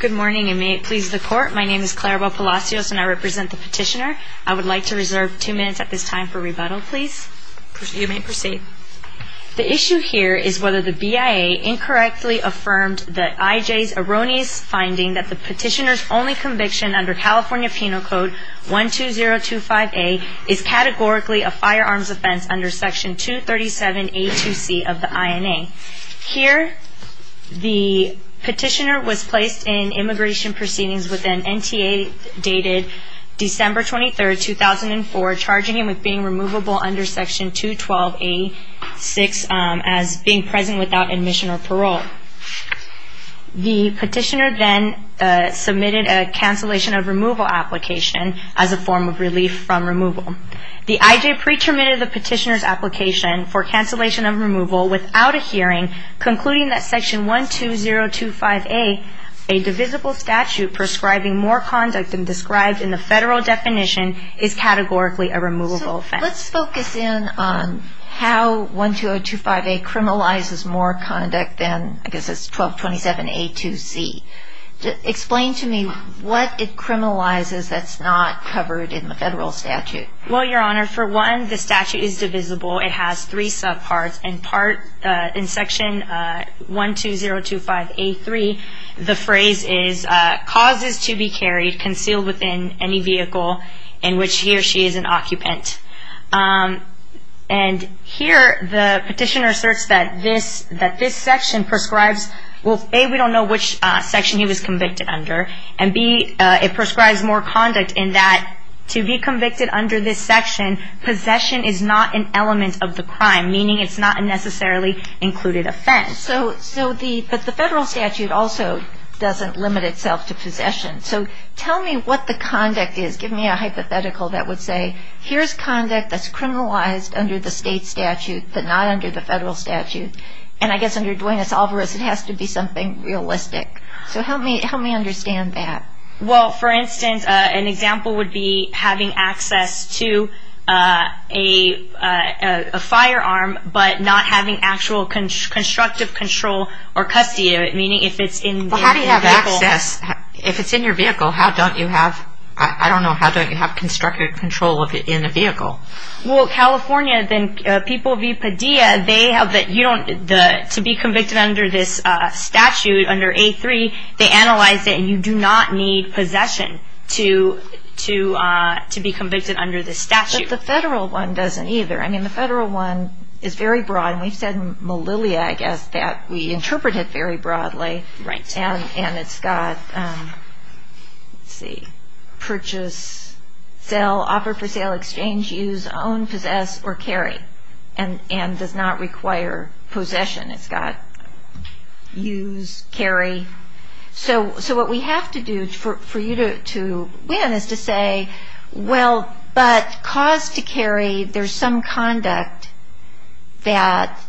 Good morning and may it please the court. My name is Clara Bell Palacios and I represent the petitioner. I would like to reserve two minutes at this time for rebuttal, please. You may proceed. The issue here is whether the BIA incorrectly affirmed the IJ's erroneous finding that the petitioner's only conviction under California Penal Code 12025A is categorically a firearms offense under Section 237A2C of the INA. Here, the petitioner was placed in immigration proceedings with an NTA dated December 23, 2004, charging him with being removable under Section 212A6 as being present without admission or parole. The petitioner then submitted a cancellation of removal application as a form of relief from removal. The IJ pre-terminated the petitioner's application for cancellation of removal without a hearing, concluding that Section 12025A, a divisible statute prescribing more conduct than described in the federal definition, is categorically a removable offense. Let's focus in on how 12025A criminalizes more conduct than, I guess it's 1227A2C. Explain to me what it criminalizes that's not covered in the federal statute. Well, Your Honor, for one, the statute is divisible. It has three subparts. In Section 12025A3, the phrase is, causes to be carried, concealed within any vehicle in which he or she is an occupant. And here, the petitioner asserts that this section prescribes, well, A, we don't know which section he was convicted under, and B, it prescribes more conduct in that to be convicted under this section, possession is not an element of the crime, meaning it's not a necessarily included offense. But the federal statute also doesn't limit itself to possession. So tell me what the conduct is. Give me a hypothetical that would say, here's conduct that's criminalized under the state statute, but not under the federal statute. And I guess under Duenas-Alvarez, it has to be something realistic. So help me understand that. Well, for instance, an example would be having access to a firearm, but not having actual constructive control or custody of it, meaning if it's in the vehicle. Well, how do you have access? If it's in your vehicle, how don't you have, I don't know, how don't you have constructive control of it in a vehicle? Well, California, then, People v. Padilla, they have the, you don't, to be convicted under this statute, under A3, they analyze it, and you do not need possession to be convicted under this statute. But the federal one doesn't either. I mean, the federal one is very broad, and we've said in Malilia, I guess, that we interpret it very broadly, and it's got, let's see, purchase, sell, offer for sale, exchange, use, own, possess, or carry, and does not require possession. It's got use, carry. So what we have to do for you to win is to say, well, but cause to carry, there's some conduct that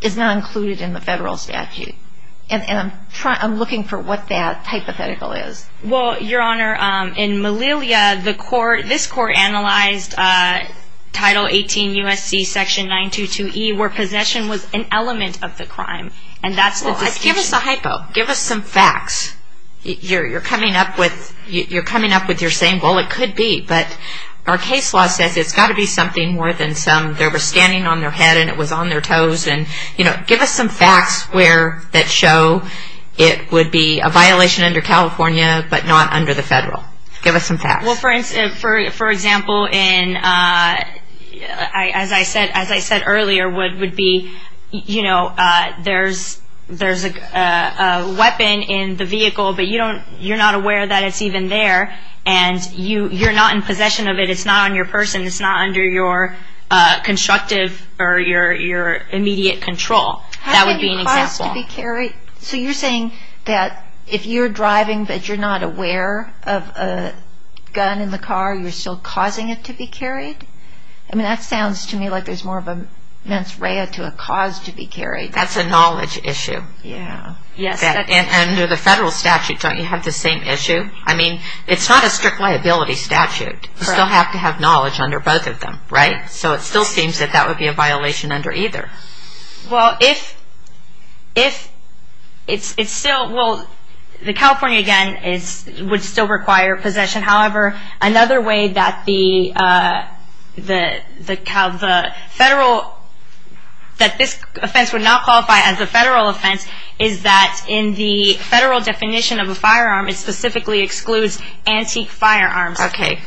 is not included in the federal statute. And I'm looking for what that hypothetical is. Well, Your Honor, in Malilia, the court, this court analyzed Title 18 U.S.C. Section 922E, where possession was an element of the crime. And that's the distinction. Give us a hypo. Give us some facts. You're coming up with, you're coming up with, you're saying, well, it could be, but our case law says it's got to be something more than some, they were standing on their head and it was on their toes, and, you know, give us some facts where, that show it would be a violation under California, but not under the federal. Give us some facts. Well, for example, in, as I said, as I said earlier, what would be, you know, there's a weapon in the vehicle, but you don't, you're not aware that it's even there. And you're not in possession of it. It's not on your person. It's not under your constructive or your immediate control. That would be an example. So you're saying that if you're driving, but you're not aware of a gun in the car, you're still causing it to be carried? I mean, that sounds to me like there's more of a mens rea to a cause to be carried. That's a knowledge issue. Yeah. Yes. And under the federal statute, don't you have the same issue? I mean, it's not a strict liability statute. Correct. You still have to have knowledge under both of them, right? So it still seems that that would be a violation under either. Well, if it's still, well, the California, again, would still require possession. However, another way that the federal, that this offense would not qualify as a federal offense, is that in the federal definition of a firearm, it specifically excludes antique firearms. Okay.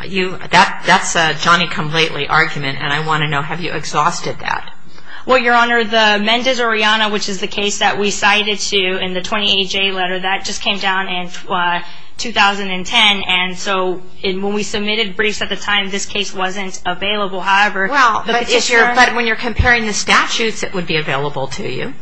That's a Johnny-come-lately argument, and I want to know, have you exhausted that? Well, Your Honor, the Mendez-Oriana, which is the case that we cited to in the 28-J letter, that just came down in 2010. And so when we submitted briefs at the time, this case wasn't available. However, the petitioner But when you're comparing the statutes that would be available to you,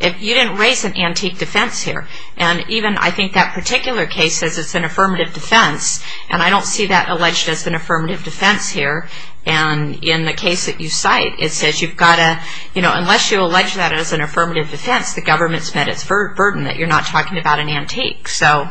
you didn't raise an antique defense here. And even I think that particular case says it's an affirmative defense, and I don't see that alleged as an affirmative defense here. And in the case that you cite, it says you've got to, you know, unless you allege that as an affirmative defense, the government's met its burden that you're not talking about an antique. So.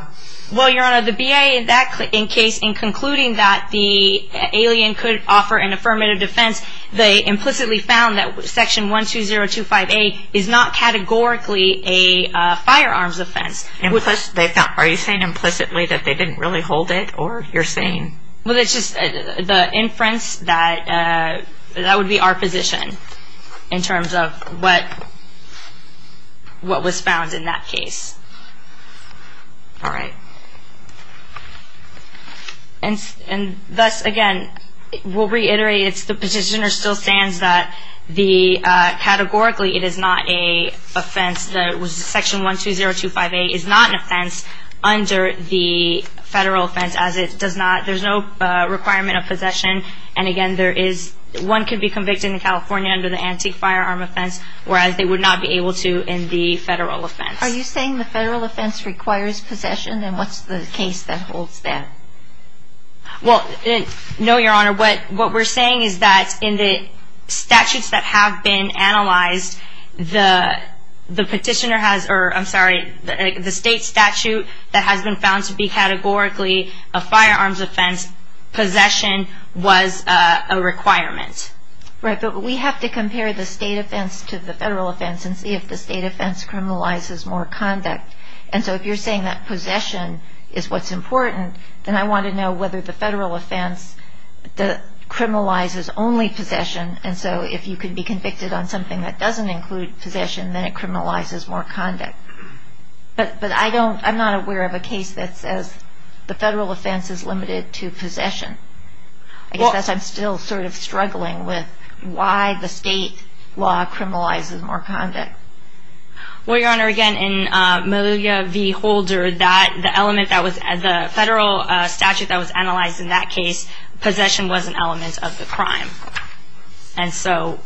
Well, Your Honor, the BIA in that case, in concluding that the alien could offer an affirmative defense, they implicitly found that Section 12025A is not categorically a firearms offense. Are you saying implicitly that they didn't really hold it, or you're saying? Well, it's just the inference that that would be our position in terms of what was found in that case. All right. And thus, again, we'll reiterate, it's the petitioner still stands that the categorically it is not a offense that was Section 12025A is not an offense under the federal offense as it does not, there's no requirement of possession. And again, there is one could be convicted in California under the antique firearm offense, whereas they would not be able to in the federal offense. Are you saying the federal offense requires possession, and what's the case that holds that? Well, no, Your Honor, what we're saying is that in the statutes that have been analyzed, the petitioner has, or I'm sorry, the state statute that has been found to be categorically a firearms offense, possession was a requirement. Right, but we have to compare the state offense to the federal offense and see if the state offense criminalizes more conduct. And so if you're saying that possession is what's important, then I want to know whether the federal offense criminalizes only possession, and so if you could be convicted on something that doesn't include possession, then it criminalizes more conduct. But I don't, I'm not aware of a case that says the federal offense is limited to possession. I guess I'm still sort of struggling with why the state law criminalizes more conduct. Well, Your Honor, again, in Meluga v. Holder, the federal statute that was analyzed in that case, possession was an element of the crime. And so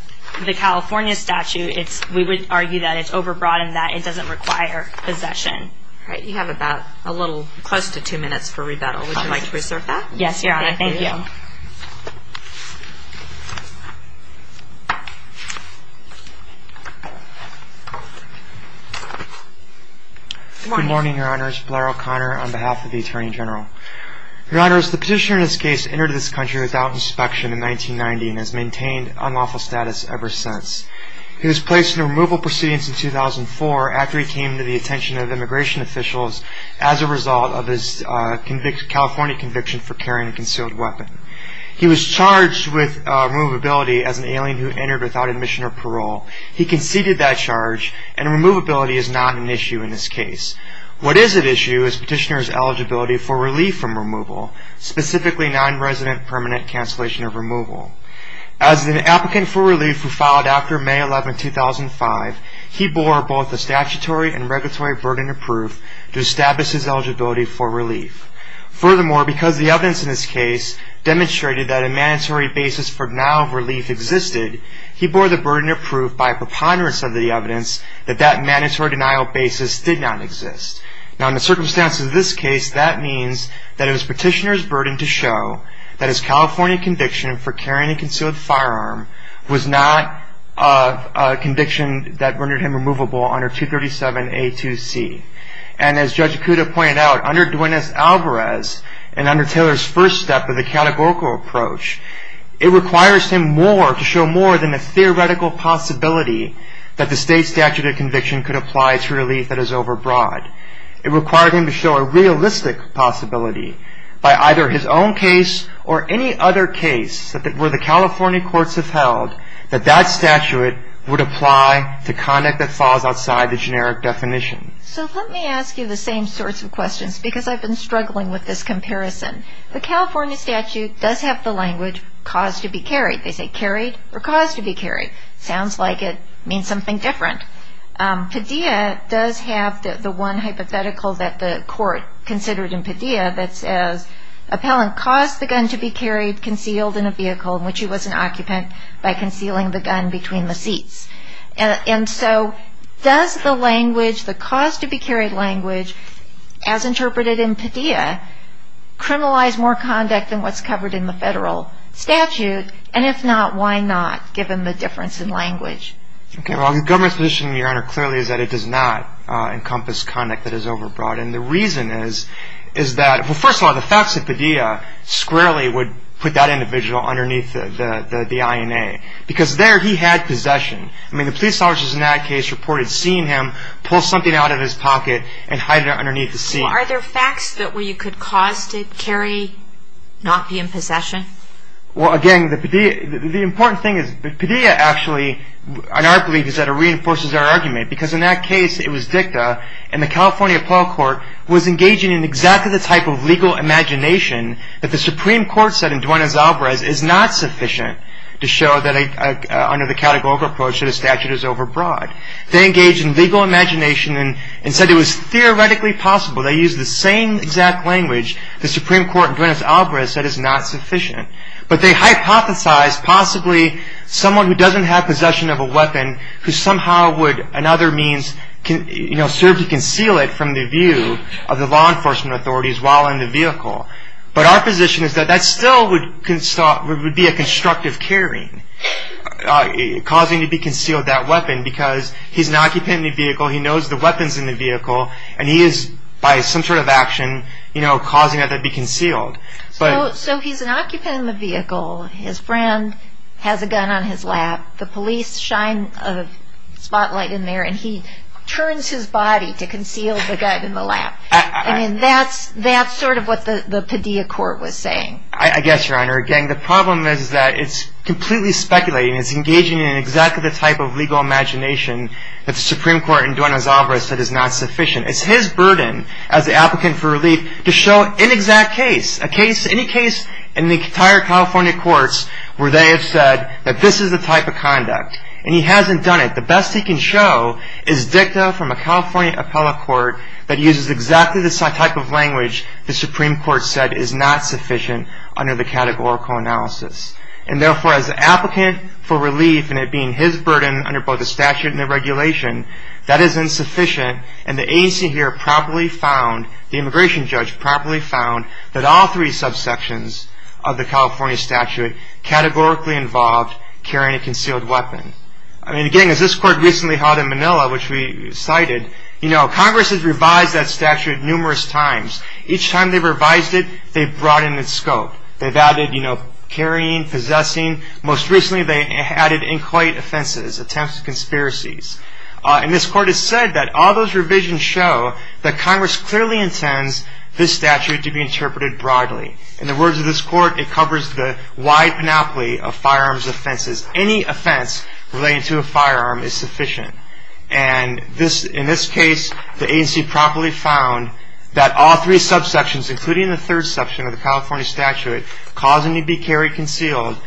the California statute, we would argue that it's over-broadened, that it doesn't require possession. Right, you have about a little close to two minutes for rebuttal. Would you like to reserve that? Yes, Your Honor, thank you. Good morning, Your Honors. Blair O'Connor on behalf of the Attorney General. Your Honors, the petitioner in this case entered this country without inspection in 1990 and has maintained unlawful status ever since. He was placed into removal proceedings in 2004 after he came to the attention of immigration officials as a result of his California conviction for carrying a concealed weapon. He was charged with removability as an alien who entered without admission or parole. He conceded that charge, and removability is not an issue in this case. What is at issue is petitioner's eligibility for relief from removal, specifically non-resident permanent cancellation of removal. As an applicant for relief who filed after May 11, 2005, he bore both a statutory and regulatory burden of proof to establish his eligibility for relief. Furthermore, because the evidence in this case demonstrated that a mandatory basis for denial of relief existed, he bore the burden of proof by preponderance of the evidence that that mandatory denial basis did not exist. Now, in the circumstances of this case, that means that it was petitioner's burden to show that his California conviction for carrying a concealed firearm was not a conviction that rendered him removable under 237A2C. And as Judge Acuda pointed out, under Duenas-Alvarez and under Taylor's first step of the categorical approach, it requires him more to show more than a theoretical possibility that the state statute of conviction could apply to relief that is overbroad. It required him to show a realistic possibility by either his own case or any other case where the California courts have held that that statute would apply to conduct that falls outside the generic definition. So let me ask you the same sorts of questions because I've been struggling with this comparison. The California statute does have the language, cause to be carried. They say carried or cause to be carried. Sounds like it means something different. Padilla does have the one hypothetical that the court considered in Padilla that says, appellant caused the gun to be carried, concealed in a vehicle in which he was an occupant by concealing the gun between the seats. And so does the language, the cause to be carried language, as interpreted in Padilla, criminalize more conduct than what's covered in the federal statute? And if not, why not, given the difference in language? Okay, well, the government's position, Your Honor, clearly is that it does not encompass conduct that is overbroad. And the reason is that, well, first of all, the facts of Padilla squarely would put that individual underneath the INA because there he had possession. I mean, the police officers in that case reported seeing him pull something out of his pocket and hide it underneath the seat. Are there facts that you could cause to carry, not be in possession? Well, again, the important thing is that Padilla actually, in our belief, is that it reinforces our argument because in that case it was dicta and the California Appellate Court was engaging in exactly the type of legal imagination that the Supreme Court said in Duenas-Alvarez is not sufficient to show that, under the categorical approach, that a statute is overbroad. They engaged in legal imagination and said it was theoretically possible. They used the same exact language the Supreme Court in Duenas-Alvarez said is not sufficient. But they hypothesized possibly someone who doesn't have possession of a weapon who somehow would another means serve to conceal it from the view of the law enforcement authorities while in the vehicle. But our position is that that still would be a constructive carrying, causing to be concealed that weapon because he's an occupant in the vehicle, he knows the weapons in the vehicle, and he is, by some sort of action, causing that to be concealed. So he's an occupant in the vehicle, his friend has a gun on his lap, the police shine a spotlight in there and he turns his body to conceal the gun in the lap. I mean, that's sort of what the Padilla court was saying. I guess, Your Honor. Again, the problem is that it's completely speculating. It's engaging in exactly the type of legal imagination that the Supreme Court in Duenas-Alvarez said is not sufficient. It's his burden as the applicant for relief to show an exact case, any case in the entire California courts where they have said that this is the type of conduct. And he hasn't done it. The best he can show is dicta from a California appellate court that uses exactly this type of language the Supreme Court said is not sufficient under the categorical analysis. And therefore, as an applicant for relief and it being his burden under both the statute and the regulation, that is insufficient and the agency here properly found, the immigration judge properly found, that all three subsections of the California statute categorically involved carrying a concealed weapon. I mean, again, as this court recently held in Manila, which we cited, Congress has revised that statute numerous times. Each time they've revised it, they've broadened its scope. They've added carrying, possessing. Most recently, they added inquiet offenses, attempts at conspiracies. And this court has said that all those revisions show that Congress clearly intends this statute to be interpreted broadly. In the words of this court, it covers the wide panoply of firearms offenses. Any offense related to a firearm is sufficient. And in this case, the agency properly found that all three subsections, including the third section of the California statute causing to be carried concealed,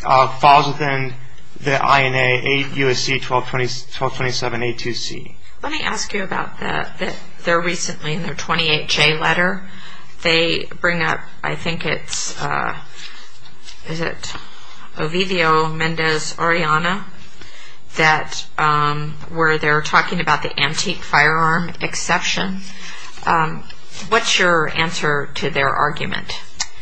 falls within the INA 8 U.S.C. 1227 A2C. Let me ask you about the, they're recently in their 28-J letter. They bring up, I think it's, is it Ovivio Mendez-Oriana, that where they're talking about the antique firearm exception. What's your answer to their argument?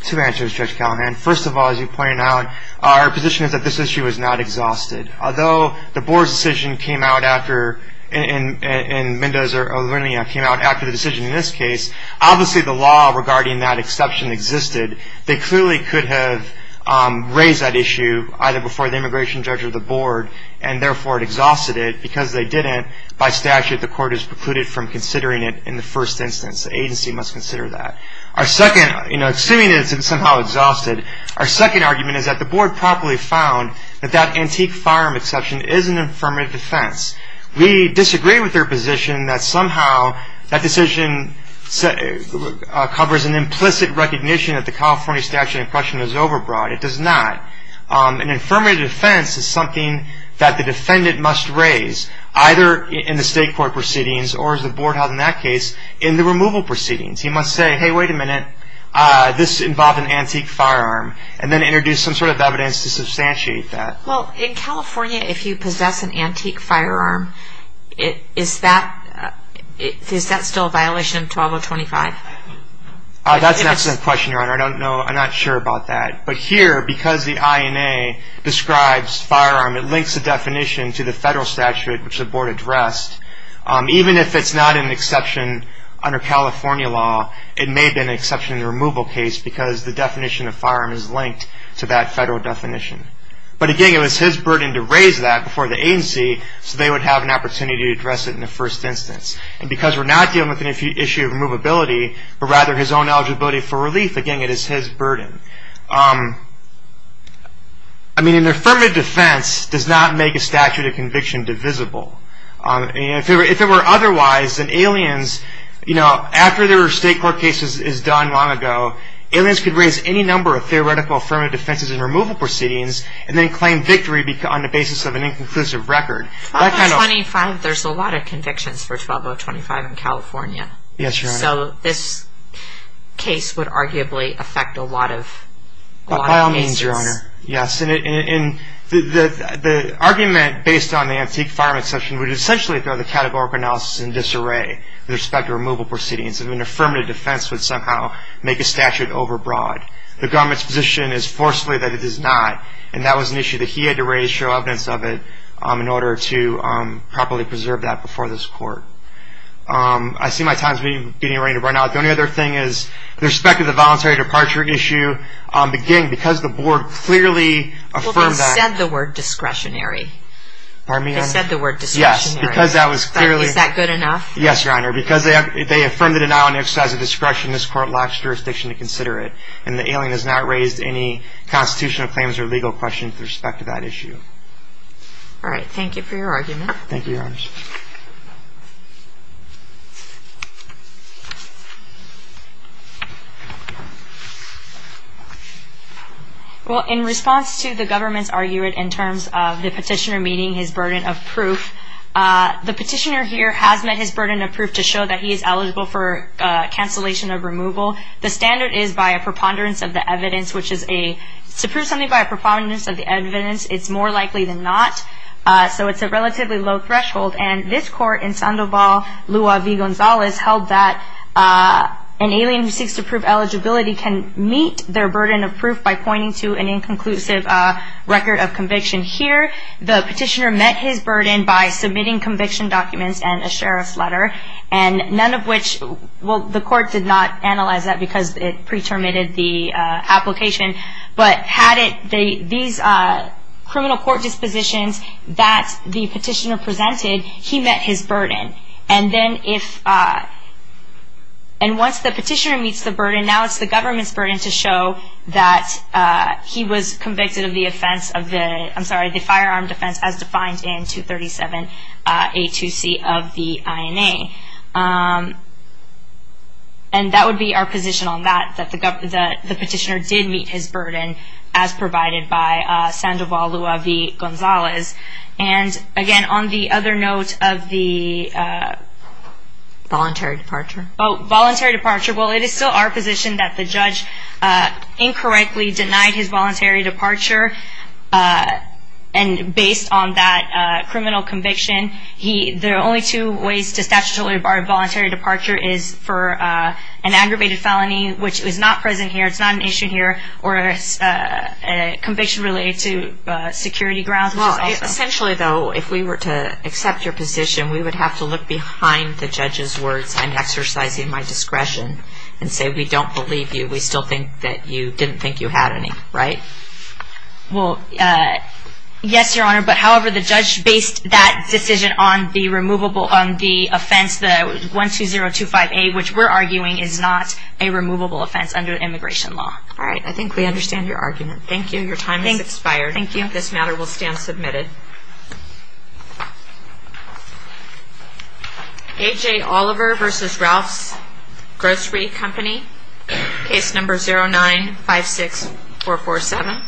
Two answers, Judge Callahan. First of all, as you pointed out, our position is that this issue is not exhausted. Although the board's decision came out after, and Mendez-Oriana came out after the decision in this case, obviously the law regarding that exception existed. They clearly could have raised that issue either before the immigration judge or the board, and therefore it exhausted it. Because they didn't, by statute the court is precluded from considering it in the first instance. The agency must consider that. Our second, you know, assuming it's somehow exhausted, our second argument is that the board properly found that that antique firearm exception is an affirmative defense. We disagree with their position that somehow that decision covers an implicit recognition that the California statute of impression is overbroad. It does not. An affirmative defense is something that the defendant must raise, either in the state court proceedings or, as the board held in that case, in the removal proceedings. He must say, hey, wait a minute, this involved an antique firearm, and then introduce some sort of evidence to substantiate that. Well, in California, if you possess an antique firearm, is that still a violation of 12025? That's an excellent question, Your Honor. I don't know. I'm not sure about that. But here, because the INA describes firearm, it links the definition to the federal statute, which the board addressed. Even if it's not an exception under California law, it may have been an exception in the removal case because the definition of firearm is linked to that federal definition. But, again, it was his burden to raise that before the agency so they would have an opportunity to address it in the first instance. And because we're not dealing with an issue of removability, but rather his own eligibility for relief, again, it is his burden. I mean, an affirmative defense does not make a statute of conviction divisible. If it were otherwise, then aliens, you know, after their state court case is done long ago, aliens could raise any number of theoretical affirmative defenses in removal proceedings and then claim victory on the basis of an inconclusive record. 12025, there's a lot of convictions for 12025 in California. Yes, Your Honor. So this case would arguably affect a lot of cases. By all means, Your Honor. Yes, and the argument based on the antique firearm exception would essentially throw the categorical analysis in disarray with respect to removal proceedings. An affirmative defense would somehow make a statute overbroad. The government's position is forcefully that it does not, and that was an issue that he had to raise to show evidence of it in order to properly preserve that before this court. I see my time is being run out. The only other thing is with respect to the voluntary departure issue, again, because the board clearly affirmed that. Well, they said the word discretionary. Pardon me, Your Honor? They said the word discretionary. Yes, because that was clearly. Is that good enough? Yes, Your Honor, because they affirmed the denial and exercise of discretion, this court locks jurisdiction to consider it, and the alien has not raised any constitutional claims or legal questions with respect to that issue. All right. Thank you for your argument. Thank you, Your Honor. Well, in response to the government's argument in terms of the petitioner meeting his burden of proof, the petitioner here has met his burden of proof to show that he is eligible for cancellation of removal. The standard is by a preponderance of the evidence, which is to prove something by a preponderance of the evidence, it's more likely than not. So it's a relatively low threshold, and this court in Sandoval, Lua v. Gonzalez, held that an alien who seeks to prove eligibility can meet their burden of proof by pointing to an inconclusive record of conviction. And here, the petitioner met his burden by submitting conviction documents and a sheriff's letter, and none of which, well, the court did not analyze that because it pre-terminated the application, but had it, these criminal court dispositions that the petitioner presented, he met his burden. And then if, and once the petitioner meets the burden, and now it's the government's burden to show that he was convicted of the offense of the, I'm sorry, the firearm defense as defined in 237A2C of the INA. And that would be our position on that, that the petitioner did meet his burden, as provided by Sandoval, Lua v. Gonzalez. And again, on the other note of the... Voluntary departure. Oh, voluntary departure. Well, it is still our position that the judge incorrectly denied his voluntary departure, and based on that criminal conviction, the only two ways to statutorily bar a voluntary departure is for an aggravated felony, which is not present here, it's not an issue here, or a conviction related to security grounds. Well, essentially, though, if we were to accept your position, we would have to look behind the judge's words, I'm exercising my discretion, and say we don't believe you, we still think that you didn't think you had any, right? Well, yes, Your Honor, but however the judge based that decision on the removable, on the offense, the 12025A, which we're arguing is not a removable offense under immigration law. All right, I think we understand your argument. Thank you, your time has expired. Thank you. This matter will stand submitted. A.J. Oliver v. Ralph's Grocery Company, case number 0956447.